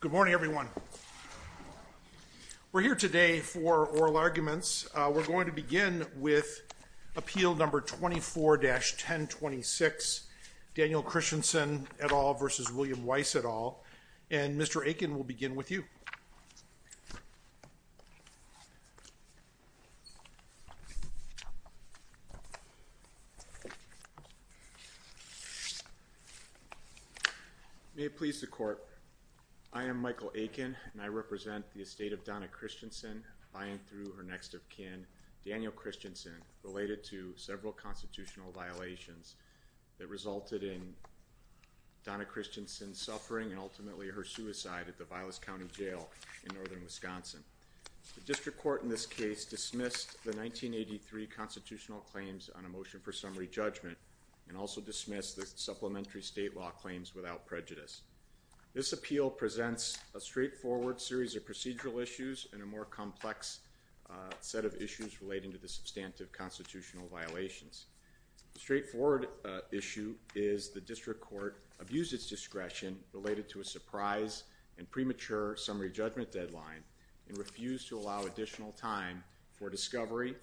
Good morning, everyone. We're here today for oral arguments. We're going to begin with appeal number 24-1026, Daniel Christensen et al. v. William Weiss et al. And Mr. Aiken, we'll begin with you. May it please the court, I am Michael Aiken, and I represent the estate of Donna Christensen, buying through her next of kin, Daniel Christensen, related to several constitutional violations that resulted in Donna Christensen suffering and ultimately her suicide at the Vilas County jail in northern Wisconsin. The district court in this case dismissed the 1983 constitutional claims on a motion for summary judgment and also dismissed the supplementary state law claims without prejudice. This appeal presents a straightforward series of procedural issues and a more complex set of issues relating to the substantive constitutional violations. The straightforward issue is the district court abused its discretion related to a surprise and premature summary judgment deadline and refused to allow additional time for discovery.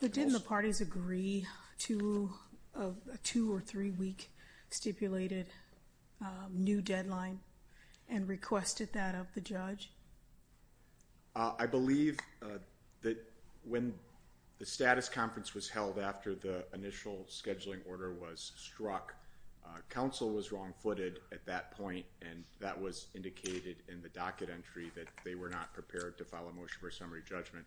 But didn't the parties agree to a two- or three-week stipulated new deadline and requested that of the judge? I believe that when the status conference was held after the initial scheduling order was struck, counsel was wrong-footed at that point, and that was indicated in the docket entry that they were not prepared to file a motion for summary judgment.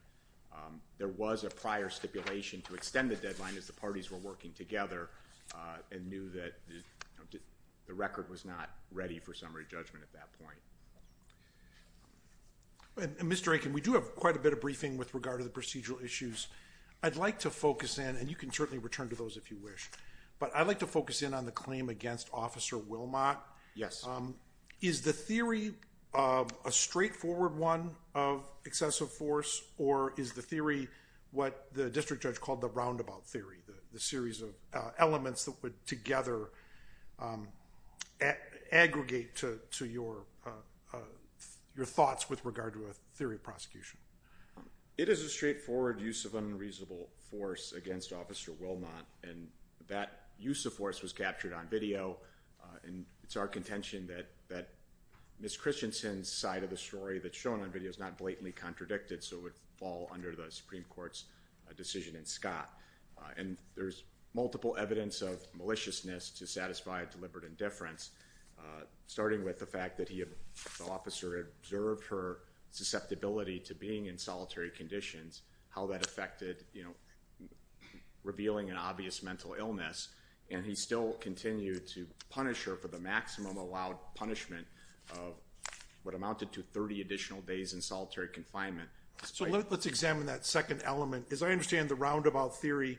There was a prior stipulation to extend the deadline as the parties were working together and knew that the record was not ready for summary judgment at that point. Mr. Aiken, we do have quite a bit of briefing with regard to the procedural issues. I'd like to focus in, and you can certainly return to those if you wish, but I'd like to focus in on the claim against Officer Wilmot. Is the theory a straightforward one of excessive force, or is the theory what the district judge called the roundabout theory, the series of elements that would together aggregate to your thoughts with regard to a theory of prosecution? It is a straightforward use of unreasonable force against Officer Wilmot, and that use of force was captured on video, and it's our contention that Ms. Christensen's side of the story that's shown on video is not blatantly contradicted, so it would fall under the Supreme Court's decision in Scott. And there's multiple evidence of maliciousness to satisfy deliberate indifference, starting with the fact that the officer observed her susceptibility to being in solitary conditions, how that affected, you know, revealing an obvious mental illness, and he still continued to punish her for the maximum allowed punishment of what amounted to 30 additional days in solitary confinement. So let's examine that second element. As I understand the roundabout theory,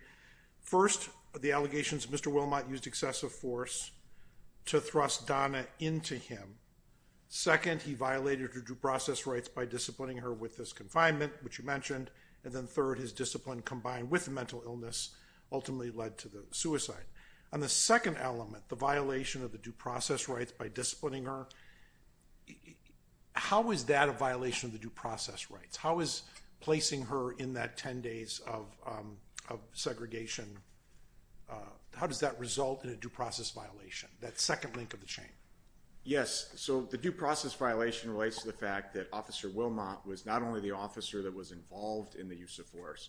first, the allegations Mr. Wilmot used excessive force to thrust Donna into him. Second, he violated her due process rights by disciplining her with this confinement, which you mentioned, and then third, his discipline combined with mental illness ultimately led to the suicide. On the second element, the violation of the due process rights by disciplining her, how is that a violation of the due process rights? How is placing her in that 10 days of segregation, how does that result in a due process violation, that second link of the chain? Yes, so the due process violation relates to the fact that Officer Wilmot was not only the officer that was involved in the use of force,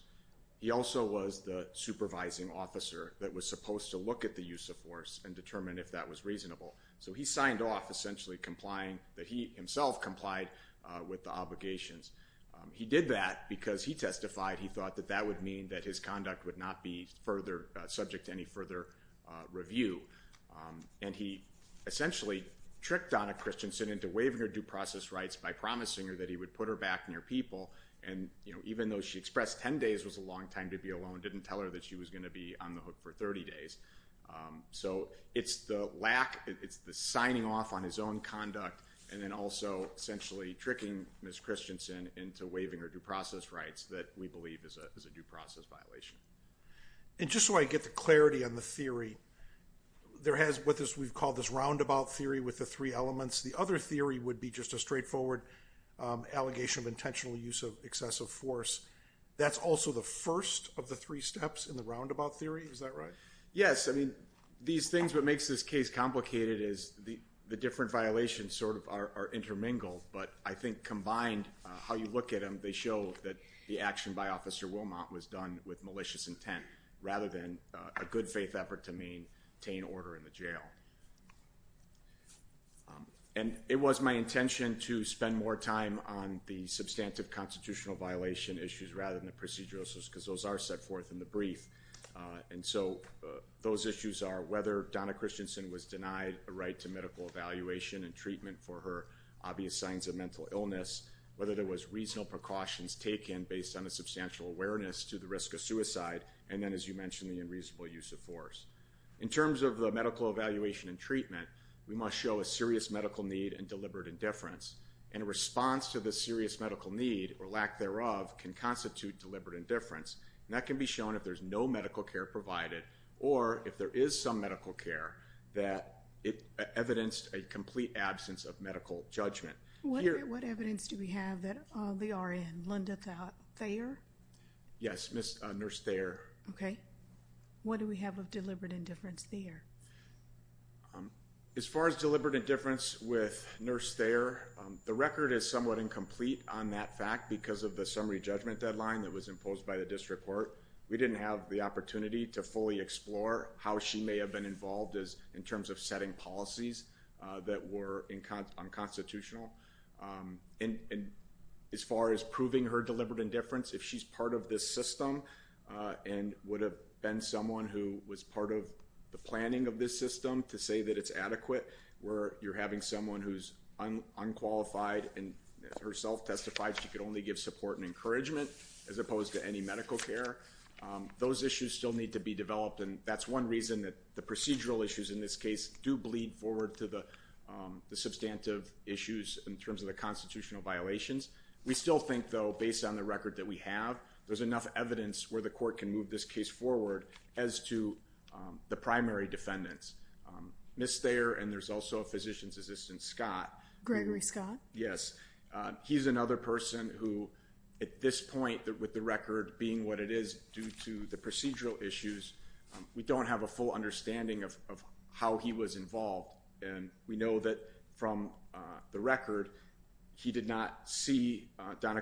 he also was the supervising officer that was supposed to look at the use of force and determine if that was reasonable. So he signed off essentially complying that he himself complied with the obligations. He did that because he testified he thought that that would mean that his conduct would not be further subject to any further review. And he essentially tricked Donna Christensen into waiving her due process rights by promising her that he would put her back near people and, you know, even though she expressed 10 days was a long time to be alone, didn't tell her that she was going to be on the hook for 30 days. So it's the lack, it's the signing off on his own conduct and then also essentially tricking Ms. Christensen into waiving her due process rights that we believe is a due process violation. And just so I get the clarity on the theory, there has what we've called this roundabout theory with the three elements. The other theory would be just a straightforward allegation of intentional use of excessive force. That's also the first of the three steps in the roundabout theory. Is that right? Yes. I mean, these things, what makes this case complicated is the different violations sort of are intermingled. But I think combined, how you look at them, they show that the action by Officer Wilmot was done with malicious intent rather than a good faith effort to maintain order in the jail. And it was my intention to spend more time on the substantive constitutional violation issues rather than the procedural issues because those are set forth in the brief. And so those issues are whether Donna Christensen was denied a right to medical evaluation and treatment for her obvious signs of mental illness, whether there was reasonable precautions taken based on a substantial awareness to the risk of suicide, and then as you mentioned, the unreasonable use of force. In terms of the medical evaluation and treatment, we must show a serious medical need and deliberate indifference. And a response to the serious medical need or lack thereof can constitute deliberate indifference. And that can be shown if there's no medical care provided or if there is some medical care that evidenced a complete absence of medical judgment. What evidence do we have that they are in? Linda Thayer? Yes, Nurse Thayer. Okay. What do we have of deliberate indifference there? As far as deliberate indifference with Nurse Thayer, the record is somewhat incomplete on that fact because of the summary judgment deadline that was imposed by the district court. We didn't have the opportunity to fully explore how she may have been involved in terms of setting policies that were unconstitutional. And as far as proving her deliberate indifference, if she's part of this system and would have been someone who was part of the planning of this system to say that it's adequate, where you're having someone who's unqualified and herself testified she could only give support and encouragement as opposed to any medical care, those issues still need to be developed. And that's one reason that the procedural issues in this case do bleed forward to the substantive issues in terms of the constitutional violations. We still think, though, based on the evidence where the court can move this case forward as to the primary defendants. Nurse Thayer and there's also a physician's assistant, Scott. Gregory Scott? Yes. He's another person who at this point with the record being what it is due to the procedural issues, we don't have a full understanding of how he was involved. And we know that from the record, he did not see Donna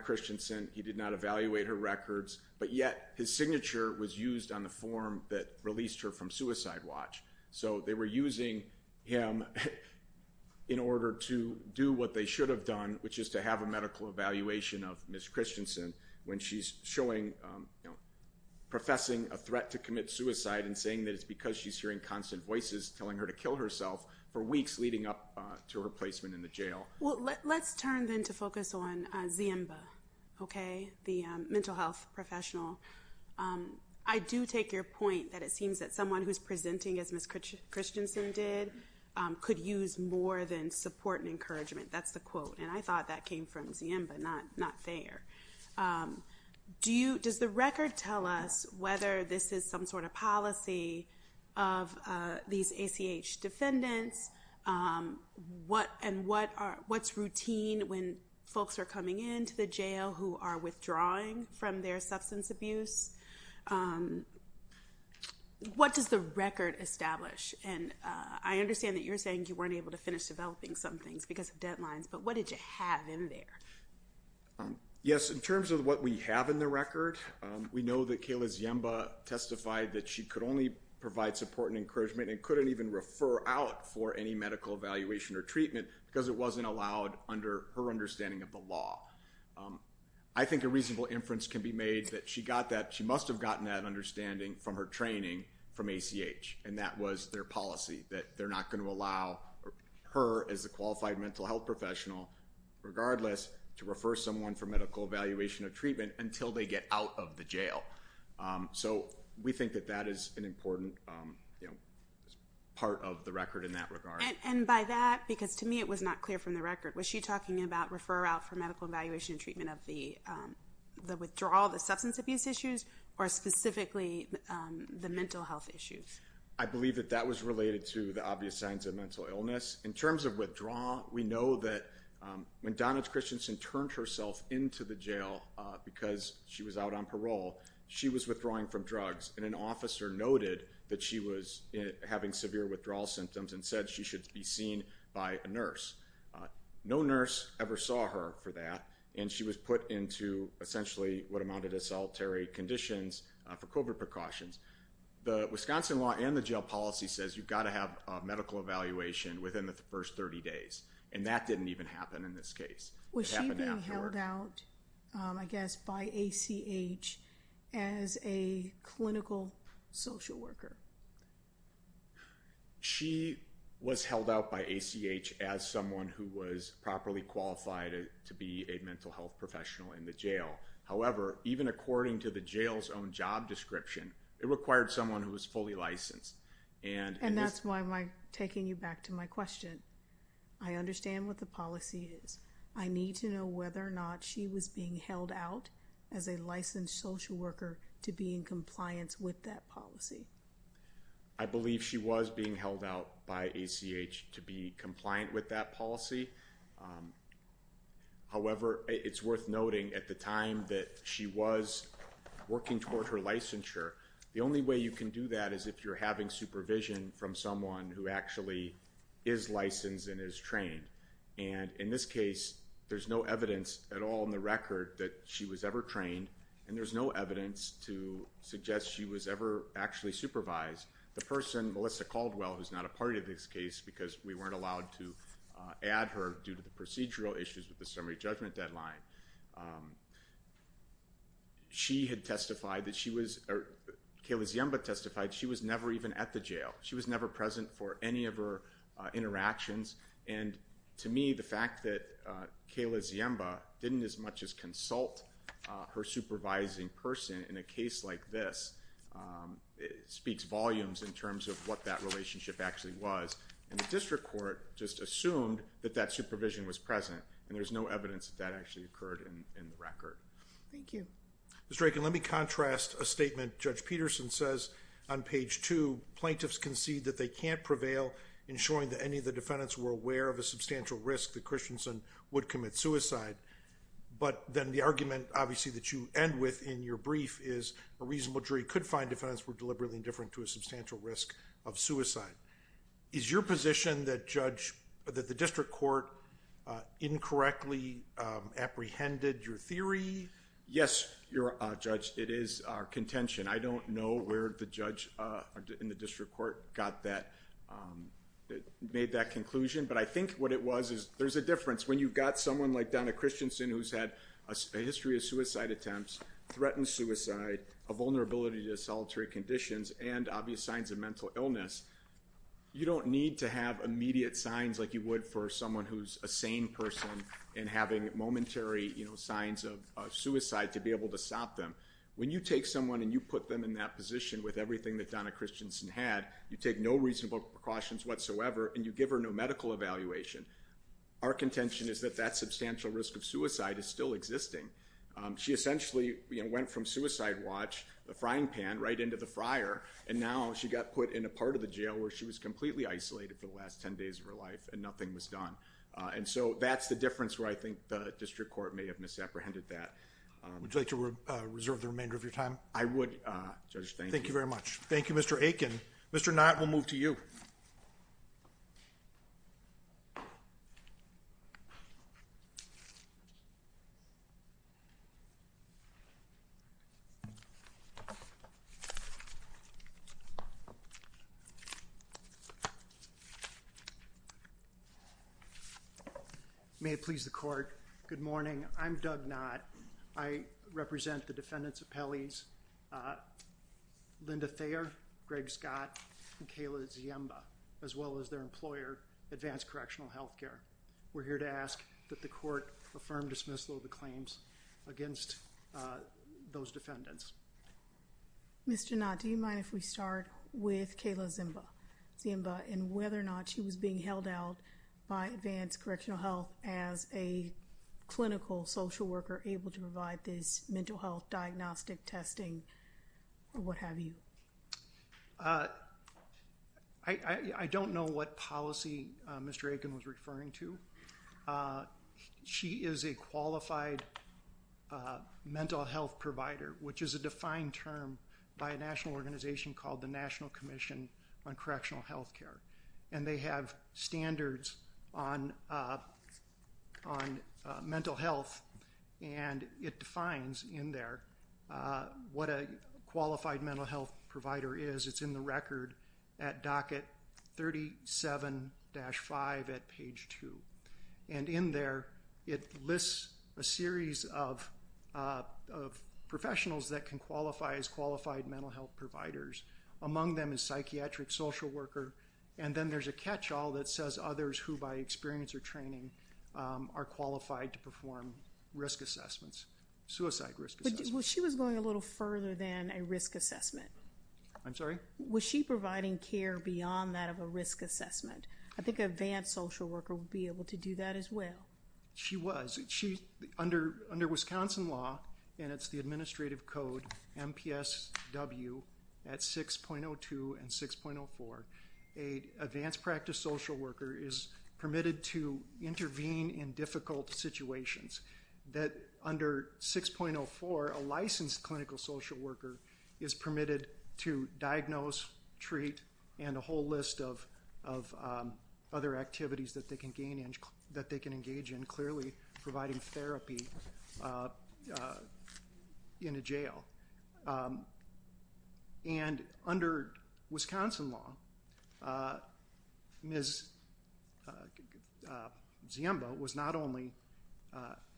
records, but yet his signature was used on the form that released her from Suicide Watch. So they were using him in order to do what they should have done, which is to have a medical evaluation of Ms. Christensen when she's showing, professing a threat to commit suicide and saying that it's because she's hearing constant voices telling her to kill herself for weeks leading up to her placement in the jail. Well, let's turn then to focus on Zimba, okay? The mental health professional. I do take your point that it seems that someone who's presenting as Ms. Christensen did could use more than support and encouragement. That's the quote. And I thought that came from Zimba, not Thayer. Does the record tell us whether this is some sort of policy of these ACH defendants and what's routine when folks are coming into the jail who are withdrawing from their substance abuse? What does the record establish? And I understand that you're saying you weren't able to finish developing some things because of deadlines, but what did you have in there? Yes, in terms of what we have in the record, we know that Kayla's Zimba testified that she could provide support and encouragement and couldn't even refer out for any medical evaluation or treatment because it wasn't allowed under her understanding of the law. I think a reasonable inference can be made that she must have gotten that understanding from her training from ACH, and that was their policy, that they're not going to allow her as a qualified mental health professional, regardless, to refer someone for medical evaluation or treatment until they get out of the jail. So we think that that is an important part of the record in that regard. And by that, because to me it was not clear from the record, was she talking about refer out for medical evaluation and treatment of the withdrawal, the substance abuse issues, or specifically the mental health issues? I believe that that was related to the obvious signs of mental illness. In terms of withdrawal, we know that when Donna Christensen turned herself into the jail because she was out on parole, she was withdrawing from drugs, and an officer noted that she was having severe withdrawal symptoms and said she should be seen by a nurse. No nurse ever saw her for that, and she was put into essentially what amounted to solitary conditions for COVID precautions. The Wisconsin law and the jail policy says you've got to have a medical evaluation within the first 30 days, and that didn't even happen in this case. Was she being held out, I guess, by ACH as a clinical social worker? She was held out by ACH as someone who was properly qualified to be a mental health professional in the jail. However, even according to the jail's own job description, it required someone who was fully licensed. And that's why I'm taking you back to my question. I understand what the policy is. I need to know whether or not she was being held out as a licensed social worker to be in compliance with that policy. I believe she was being held out by ACH to be compliant with that policy. However, it's worth noting at the time that she was working toward her licensure, the only way you can do that is if you're having supervision from someone who actually is licensed and is trained. And in this case, there's no evidence at all in the record that she was ever trained, and there's no evidence to suggest she was ever actually supervised. The person, Melissa Caldwell, who's not a part of this case because we weren't allowed to add her due to the procedural issues with the summary judgment deadline, Kayla Ziemba testified she was never even at the jail. She was never present for any of her interactions. And to me, the fact that Kayla Ziemba didn't as much as consult her supervising person in a case like this speaks volumes in terms of what that relationship actually was. And the district court just assumed that that supervision was present, and there's no evidence that that actually occurred in the record. Thank you. Mr. Aiken, let me contrast a statement Judge Peterson says on page two. Plaintiffs concede that they can't prevail in showing that any of the defendants were aware of a substantial risk that Christensen would commit suicide. But then the argument, obviously, that you end with in your brief is a reasonable jury could find defendants were deliberately indifferent to risk of suicide. Is your position that the district court incorrectly apprehended your theory? Yes, Judge, it is our contention. I don't know where the judge in the district court made that conclusion. But I think what it was is there's a difference when you've got someone like Donna Christensen who's had a history of suicide attempts, threatened suicide, a vulnerability to solitary conditions, and obvious signs of mental illness. You don't need to have immediate signs like you would for someone who's a sane person and having momentary signs of suicide to be able to stop them. When you take someone and you put them in that position with everything that Donna Christensen had, you take no reasonable precautions whatsoever, and you give her no medical evaluation. Our contention is that that substantial risk of suicide is still existing. She essentially went from suicide watch, the frying pan, right into the fryer, and now she got put in a part of the jail where she was completely isolated for the last 10 days of her life and nothing was done. And so that's the difference where I think the district court may have misapprehended that. Would you like to reserve the remainder of your time? I would. Thank you very much. Thank you, Mr. Aiken. Mr. Knott, we'll move to you. May it please the court. Good morning. I'm Doug Knott. I represent the defendants' appellees, Linda Thayer, Greg Scott, and Kayla Ziemba, as well as their employer, Advanced Correctional Health Care. We're here to ask that the court affirm dismissal of the claims against those defendants. Mr. Knott, do you mind if we start with Kayla Ziemba and whether or not she was being held out by Advanced Correctional Health as a clinical social worker able to provide this mental health diagnostic testing or what have you? I don't know what policy Mr. Aiken was referring to. She is a qualified mental health provider, which is a defined term by a national organization called the National Commission on Correctional Health Care, and they have standards on mental health, and it defines in there what a qualified mental health provider is. It's in the record at docket 37-5 at page 2, and in there it lists a series of professionals that can qualify as qualified mental health providers. Among them is psychiatric social worker, and then there's a that says others who by experience or training are qualified to perform risk assessments, suicide risk assessments. She was going a little further than a risk assessment. I'm sorry? Was she providing care beyond that of a risk assessment? I think an advanced social worker would be able to do that as well. She was. Under Wisconsin law, and it's the administrative code MPSW at 6.02 and 6.04, a advanced practice social worker is permitted to intervene in difficult situations. Under 6.04, a licensed clinical social worker is permitted to diagnose, treat, and a whole list of other activities that they can engage in, clearly providing therapy in a jail. And under Wisconsin law, Ms. Ziemba was not only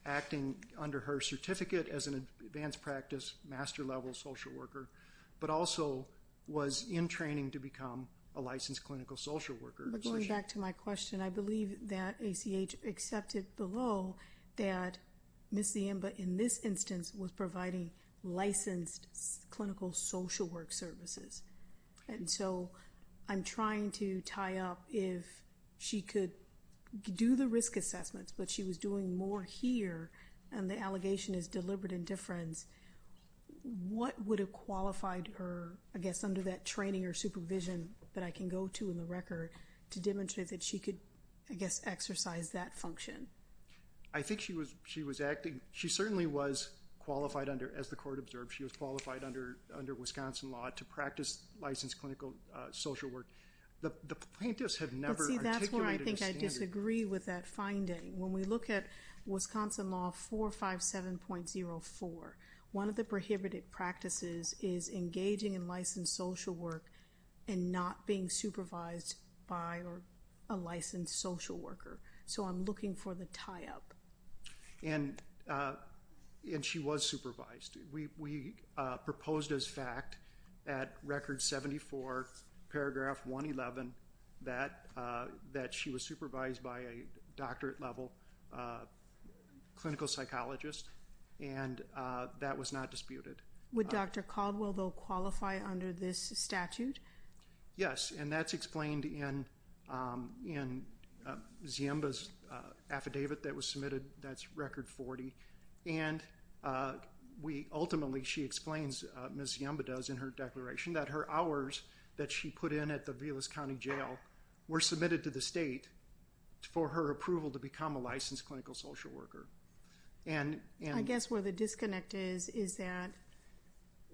acting under her certificate as an advanced practice master level social worker, but also was in training to become a licensed clinical social worker. Going back to my question, I believe that ACH accepted below that Ms. Ziemba in this instance was providing licensed clinical social work services. And so I'm trying to tie up if she could do the risk assessments, but she was doing more here, and the allegation is deliberate indifference. What would have qualified her, I guess, under that training or supervision that I can go to in the record to demonstrate that she could, I guess, exercise that function? I think she was acting, she certainly was qualified under, as the court observed, she was qualified under Wisconsin law to practice licensed clinical social work. The plaintiffs have never articulated a standard. But see, that's where I think I disagree with that finding. When we look at Wisconsin law 457.04, one of the prohibited practices is engaging in licensed social work and not being supervised by a licensed social worker. So I'm looking for the tie-up. And she was supervised. We proposed as fact at Record 74, paragraph 111, that she was supervised by a doctorate level clinical psychologist, and that was not disputed. Would Dr. Caldwell, though, qualify under this statute? Yes, and that's explained in Ziemba's affidavit that was submitted, that's Record 40. And ultimately, she explains, Ms. Ziemba does in her declaration, that her hours that she put in at the Vilas County Jail were submitted to the state for her approval to become a licensed clinical social worker. I guess where the disconnect is, is that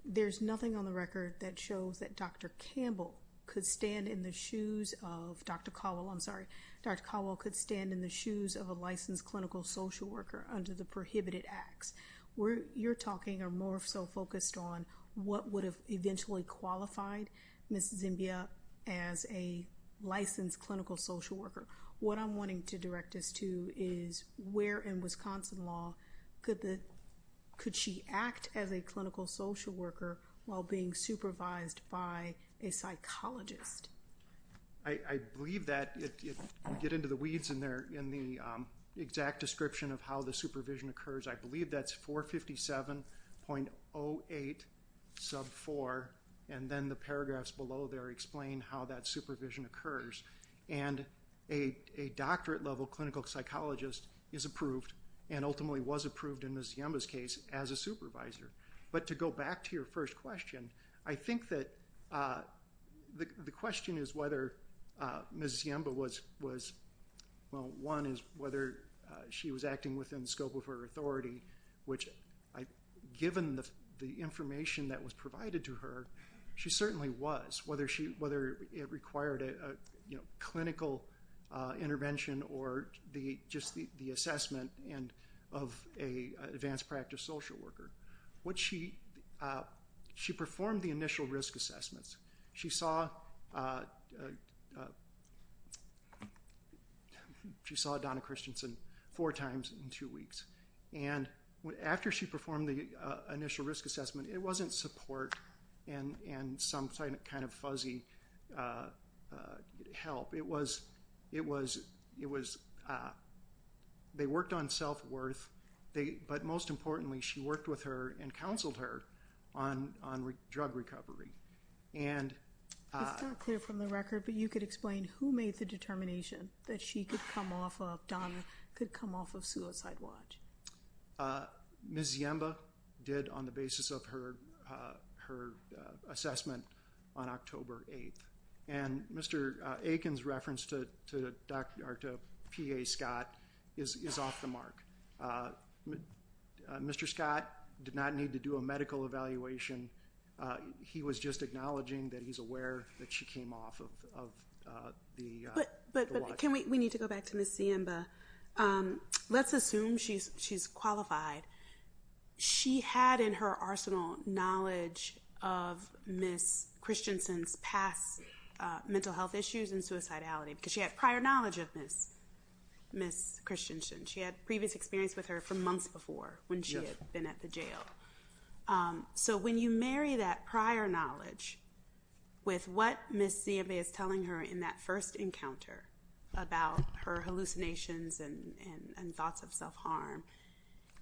there's nothing on the record that shows that Dr. Caldwell could stand in the shoes of a licensed clinical social worker under the prohibited acts. Where you're talking are more so focused on what would have eventually qualified Ms. Ziemba as a licensed clinical social worker. What I'm wanting to direct us to is where in Wisconsin law could she act as a clinical social worker while being supervised by a psychologist? I believe that, if we get into the weeds in the exact description of how the supervision occurs, I believe that's 457.08 sub 4, and then the paragraphs below there explain how that supervision occurs. And a doctorate level clinical psychologist is approved, and ultimately was approved in Ms. Ziemba's case as a supervisor. But to go back to your first question, I think that the question is whether Ms. Ziemba was, well one is whether she was acting within the scope of her authority, which given the information that was provided to her, she certainly was. Whether it required a clinical intervention or just the assessment of an advanced practice social worker. She performed the initial risk assessments. She saw Donna Christensen four times in two weeks. And after she performed the initial risk assessment, it wasn't support and some kind of fuzzy help. It was they worked on self-worth, but most importantly she worked with her and counseled her on drug recovery. It's not clear from the record, but you could explain who made the determination that she could come off of, Donna could come off of Suicide Watch. Ms. Ziemba did on the basis of her assessment on October 8th. And Mr. Aiken's reference to PA Scott is off the mark. Mr. Scott did not need to do a medical evaluation. He was just acknowledging that he's aware that she came off of the watch. We need to go back to Ms. Ziemba. Let's assume she's qualified. She had in her arsenal knowledge of Ms. Christensen's past mental health issues and suicidality because she had prior knowledge of Ms. Christensen. She had previous experience with her for months before when she had been at the jail. So when you marry that prior knowledge with what Ms. Ziemba is telling her in that first encounter about her hallucinations and thoughts of self-harm,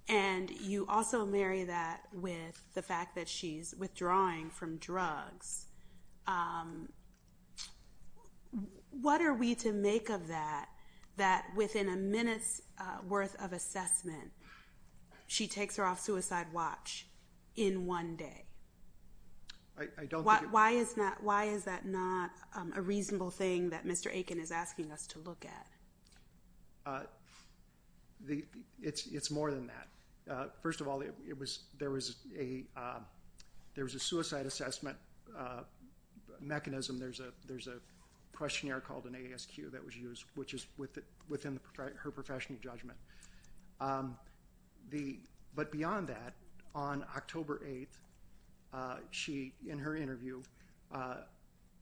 and you also marry that with the fact that she's withdrawing from drugs, what are we to make of that, that within a minute's worth of assessment she takes her Suicide Watch in one day? Why is that not a reasonable thing that Mr. Aiken is asking us to look at? It's more than that. First of all, there was a suicide assessment mechanism. There's a questionnaire called an ASQ that was used, which is within her professional judgment. But beyond that, on October 8th, in her interview,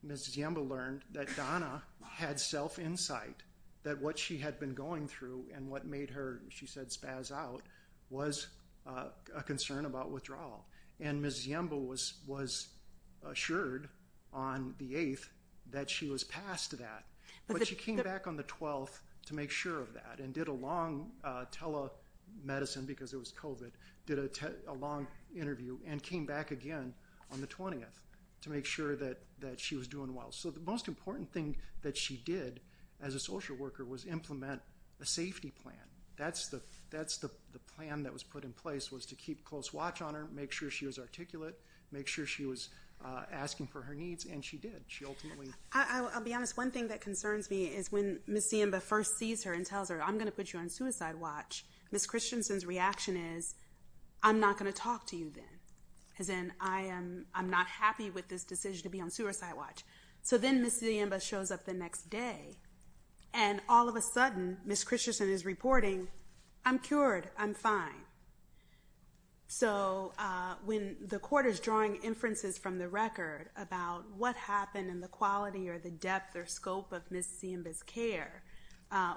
Ms. Ziemba learned that Donna had self-insight, that what she had been going through and what made her, she said, spaz out was a concern about withdrawal. And Ms. Ziemba was assured on the 8th that she was past that. But she came back on the 12th to make sure of that, and did a long telemedicine, because it was COVID, did a long interview, and came back again on the 20th to make sure that she was doing well. So the most important thing that she did as a social worker was implement a safety plan. That's the plan that was put in place, was to keep close watch on her, make sure she was articulate, make sure she was asking for her needs, and she did. She ultimately... I'll be honest, one thing that concerns me is when Ms. Ziemba first sees her and tells her, I'm going to put you on suicide watch, Ms. Christensen's reaction is, I'm not going to talk to you then. As in, I'm not happy with this decision to be on suicide watch. So then Ms. Ziemba shows up the next day, and all of a sudden, Ms. Christensen is reporting, I'm cured, I'm fine. So when the court is drawing inferences from the record about what happened and the quality or the depth or scope of Ms. Ziemba's care,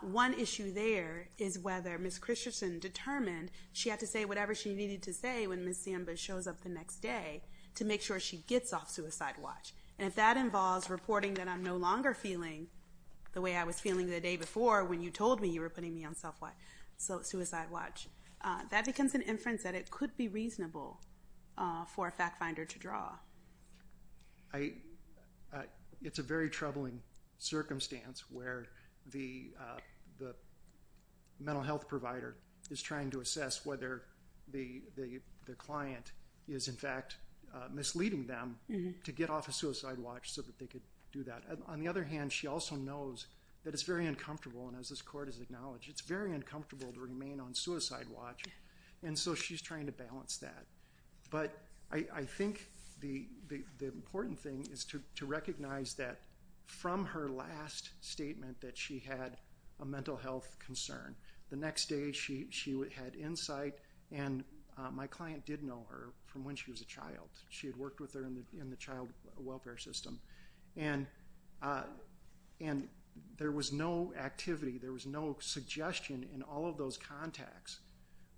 one issue there is whether Ms. Christensen determined she had to say whatever she needed to say when Ms. Ziemba shows up the next day to make sure she gets off suicide watch. And if that involves reporting that I'm no longer feeling the way I was feeling the day before when you told me you were putting me on suicide watch, that becomes an inference that it could be reasonable for a fact finder to draw. It's a very troubling circumstance where the mental health provider is trying to assess whether the client is, in fact, misleading them to get off a suicide watch so that they could do that. On the other hand, she also knows that it's very uncomfortable, and as this court has acknowledged, it's very uncomfortable to remain on suicide watch, and so she's trying to balance that. But I think the important thing is to recognize that from her last statement that she had a mental health concern. The next day, she had insight, and my client did know her from when she was a child. She had worked with her in the child welfare system, and there was no activity, there was no suggestion in all of those contacts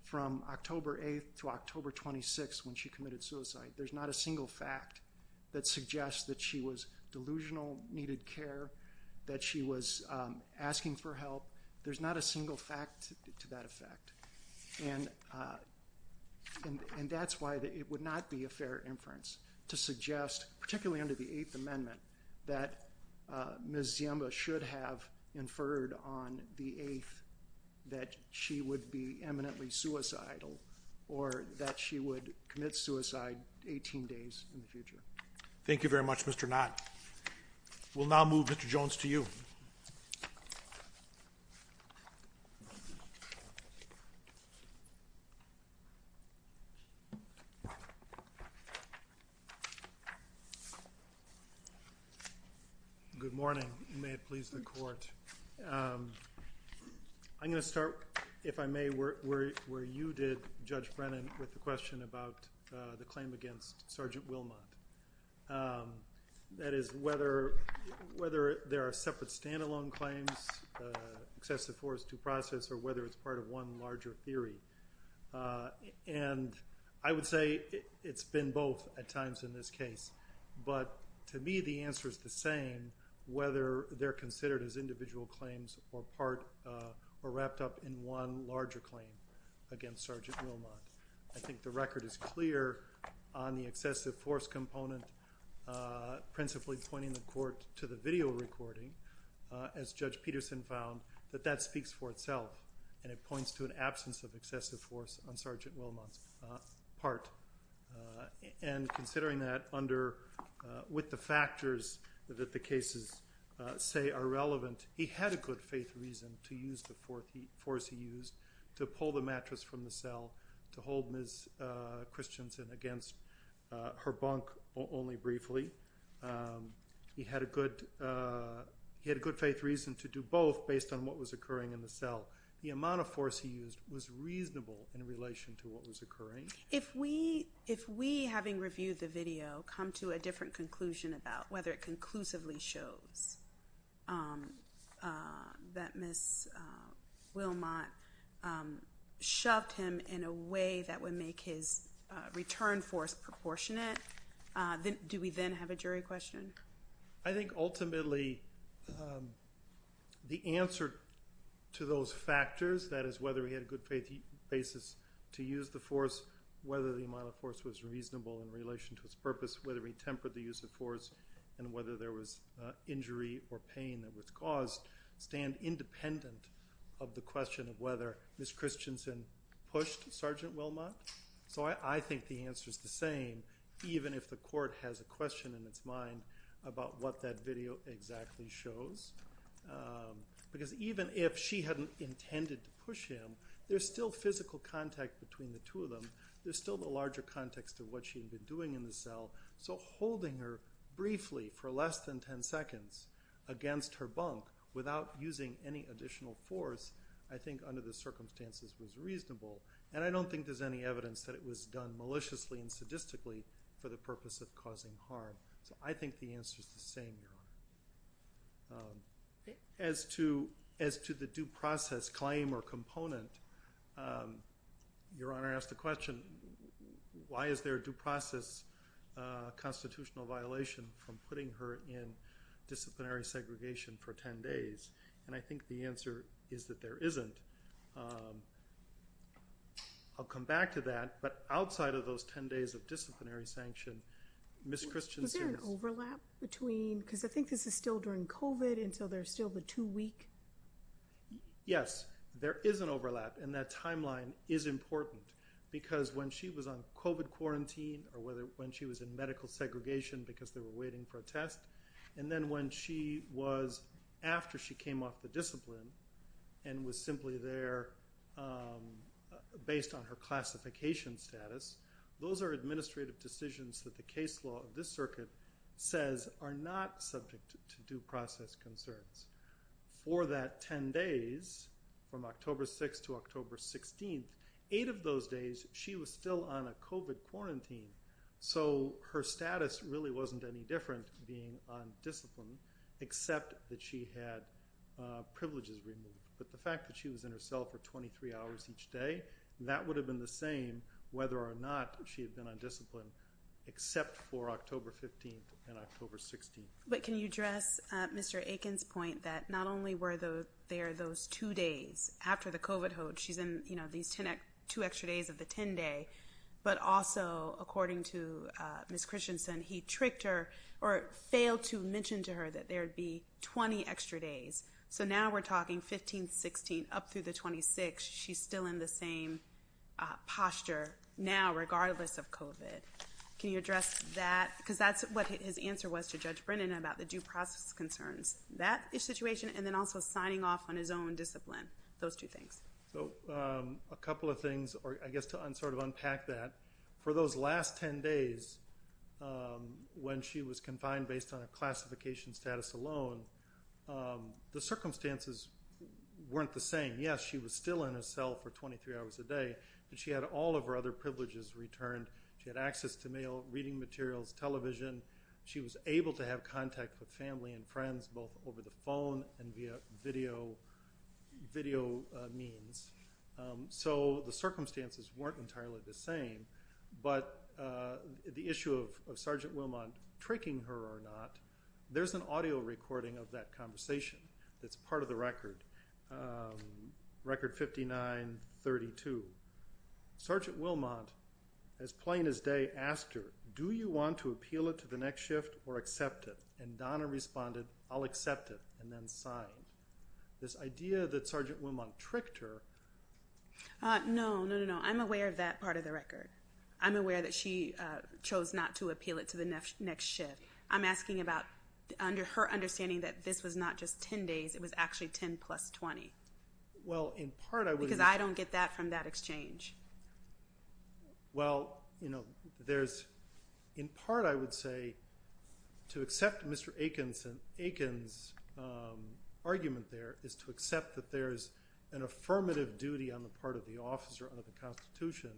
from October 8th to October 26th when she committed suicide. There's not a single fact that suggests that she was delusional, needed care, that she was asking for help. There's not a single fact to that effect. And that's why it would not be a fair inference to suggest, particularly under the Eighth Amendment, that Ms. Ziemba should have inferred on the 8th that she would be eminently suicidal or that she would commit suicide 18 days in the future. Thank you very much, Mr. Knott. We'll now move Mr. Jones to you. Good morning. You may have pleased the court. I'm going to start, if I may, where you did, Judge Brennan, with the question about the claim against Sergeant Wilmot. That is, whether there are separate stand-alone claims, excessive force due process, or whether it's part of one larger theory. And I would say it's been both at times in this case. But to me, the answer is the same, whether they're considered as individual claims or wrapped up in one larger claim against Sergeant Wilmot. I think the record is clear on the excessive force component, principally pointing the court to the video recording, as Judge Peterson found, that that speaks for itself. And it points to an absence of excessive force on Sergeant Wilmot's part. And considering that with the factors that the cases say are relevant, he had a good faith reason to use the force he used to pull the mattress from the cell, to hold Ms. Christensen against her bunk only briefly. He had a good faith reason to do both based on what was occurring in the cell. The amount of force he used was reasonable in relation to what was occurring. If we, having reviewed the video, come to a different conclusion about whether it conclusively shows that Ms. Wilmot shoved him in a way that would make his return force proportionate, do we then have a jury question? I think ultimately, the answer to those factors, that is whether he had a good faith basis to use the force, whether the amount of force was reasonable in relation to its purpose, whether he tempered the use of force, and whether there was injury or pain that was caused, stand independent of the question of whether Ms. Christensen pushed Sergeant Wilmot. So I think the answer is the same, even if the court has a question in its mind about what that video exactly shows. Because even if she hadn't intended to push him, there's still physical contact between the two of them. There's still the larger context of what she had been doing in the cell. So holding her briefly for less than 10 seconds against her bunk without using any additional force, I think under the circumstances was reasonable. And I don't think there's any evidence that it was done maliciously and sadistically for the purpose of causing harm. So I think the answer is the same, Your Honor. As to the due process claim or component, your Honor asked the question, why is there a due process constitutional violation from putting her in disciplinary segregation for 10 days? And I think the answer is that there isn't. I'll come back to that. But outside of those 10 days of disciplinary sanction, Ms. Christensen's- Is there an overlap between, because I think this is still during COVID, and so there's still the two week? Yes, there is an overlap. And that timeline is important because when she was on COVID quarantine or when she was in medical segregation because they were waiting for a test, and then when she was after she came off the discipline and was simply there based on her classification status, those are administrative decisions that the case law of says are not subject to due process concerns. For that 10 days, from October 6th to October 16th, eight of those days, she was still on a COVID quarantine. So her status really wasn't any different being on discipline, except that she had privileges removed. But the fact that she was in her cell for 23 hours each day, that would have been the same whether or not she had been on except for October 15th and October 16th. But can you address Mr. Aiken's point that not only were there those two days after the COVID, she's in these two extra days of the 10 day, but also according to Ms. Christensen, he tricked her or failed to mention to her that there'd be 20 extra days. So now we're talking 15th, 16th, up through the 26th, she's still in the same posture now, regardless of COVID. Can you address that? Because that's what his answer was to Judge Brennan about the due process concerns. That situation and then also signing off on his own discipline, those two things. So a couple of things, or I guess to sort of unpack that, for those last 10 days, when she was confined based on a classification status alone, the circumstances weren't the same. Yes, she was still in a cell for 23 hours a day, but she had all of her other privileges returned. She had access to mail, reading materials, television. She was able to have contact with family and friends both over the phone and via video means. So the circumstances weren't entirely the same. But the issue of Sergeant Wilmot tricking her or not, there's an audio recording of that conversation that's part of the record, record 59-32. Sergeant Wilmot, as plain as day, asked her, do you want to appeal it to the next shift or accept it? And Donna responded, I'll accept it, and then signed. This idea that Sergeant Wilmot tricked her... No, no, no, no. I'm aware of that part of the record. I'm aware that she chose not to appeal it to the next shift. I'm asking about her understanding that this was not just 10 days. It was actually 10 plus 20. Because I don't get that from that exchange. Well, in part, I would say, to accept Mr. Aiken's argument there is to accept that there's an affirmative duty on the part of the officer under the Constitution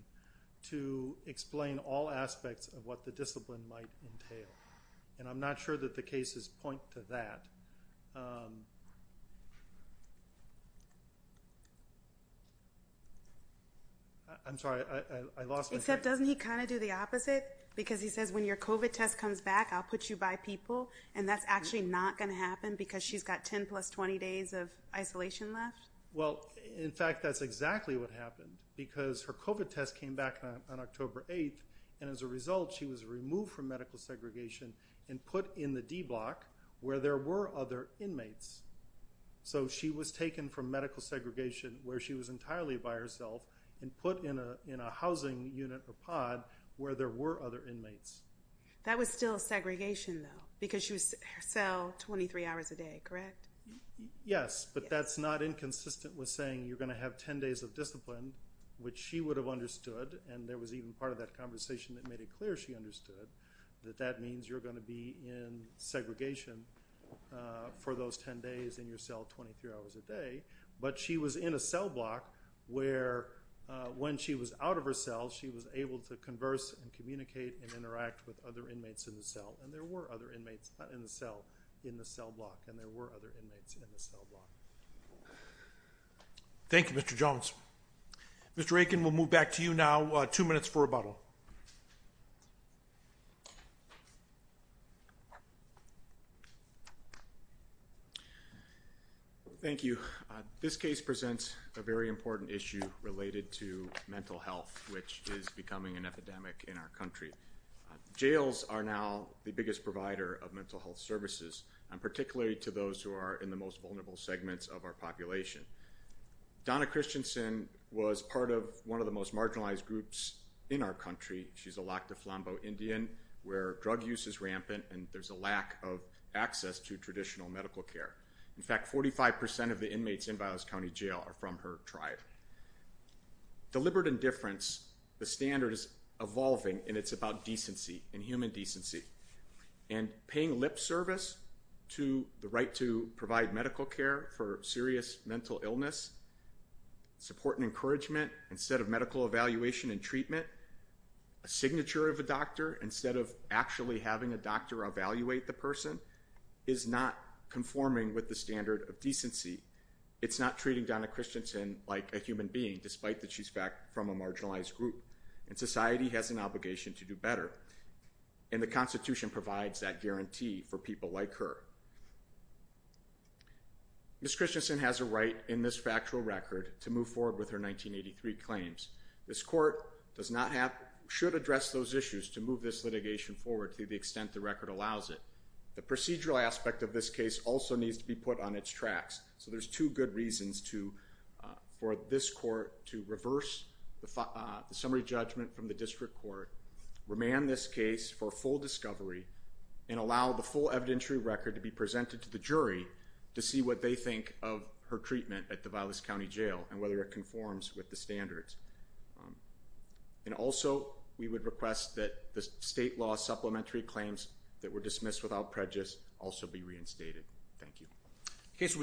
to explain all aspects of what the discipline might entail. And I'm not sure that the cases point to that. I'm sorry, I lost my... Except doesn't he kind of do the opposite? Because he says, when your COVID test comes back, I'll put you by people. And that's actually not going to happen because she's got 10 plus 20 days of isolation left? Well, in fact, that's exactly what happened. Because her COVID test came back on October 8th. And as a result, she was removed from medical segregation and put in the D block where there were other inmates. So she was taken from medical segregation where she was entirely by herself and put in a housing unit or pod where there were other inmates. That was still segregation though, because she was in her cell 23 hours a day, correct? Yes, but that's not inconsistent with saying you're going to have 10 days of discipline, which she would have understood. And there was even part of that conversation that made it clear she understood that that means you're going to be in segregation for those 10 days in your cell 23 hours a day. But she was in a cell block where when she was out of her cell, she was able to converse and communicate and interact with other inmates in the cell. And there were other inmates in the cell, in the cell block, and there were other inmates in the cell block. Thank you, Mr. Jones. Mr. Aiken, we'll move back to you now. Two minutes for rebuttal. Thank you. This case presents a very important issue related to mental health, which is becoming an epidemic in our country. Jails are now the biggest provider of mental health services, particularly to those who are in the most vulnerable segments of our population. Donna Christensen was part of one of the most marginalized groups in our country. She's a Lac du Flambeau Indian, where drug use is rampant and there's a lack of access to traditional medical care. In fact, 45 percent of the inmates in Biola's County Jail are from her tribe. Deliberate indifference, the standard is evolving and it's about decency and human decency. And paying lip service to the right to provide medical care for serious mental illness, support and encouragement, instead of medical evaluation and treatment, a signature of a doctor instead of actually having a doctor evaluate the person, is not conforming with the standard of human being, despite that she's from a marginalized group. And society has an obligation to do better. And the Constitution provides that guarantee for people like her. Ms. Christensen has a right in this factual record to move forward with her 1983 claims. This court should address those issues to move this litigation forward to the extent the record allows it. The procedural aspect of this case also needs to be put on its tracks. So there's two good reasons for this court to reverse the summary judgment from the district court, remand this case for full discovery, and allow the full evidentiary record to be presented to the jury to see what they think of her treatment at the Biola's County Jail and whether it conforms with the standards. And also, we would request that the state law supplementary claims that were dismissed without prejudice also be reinstated. Thank you.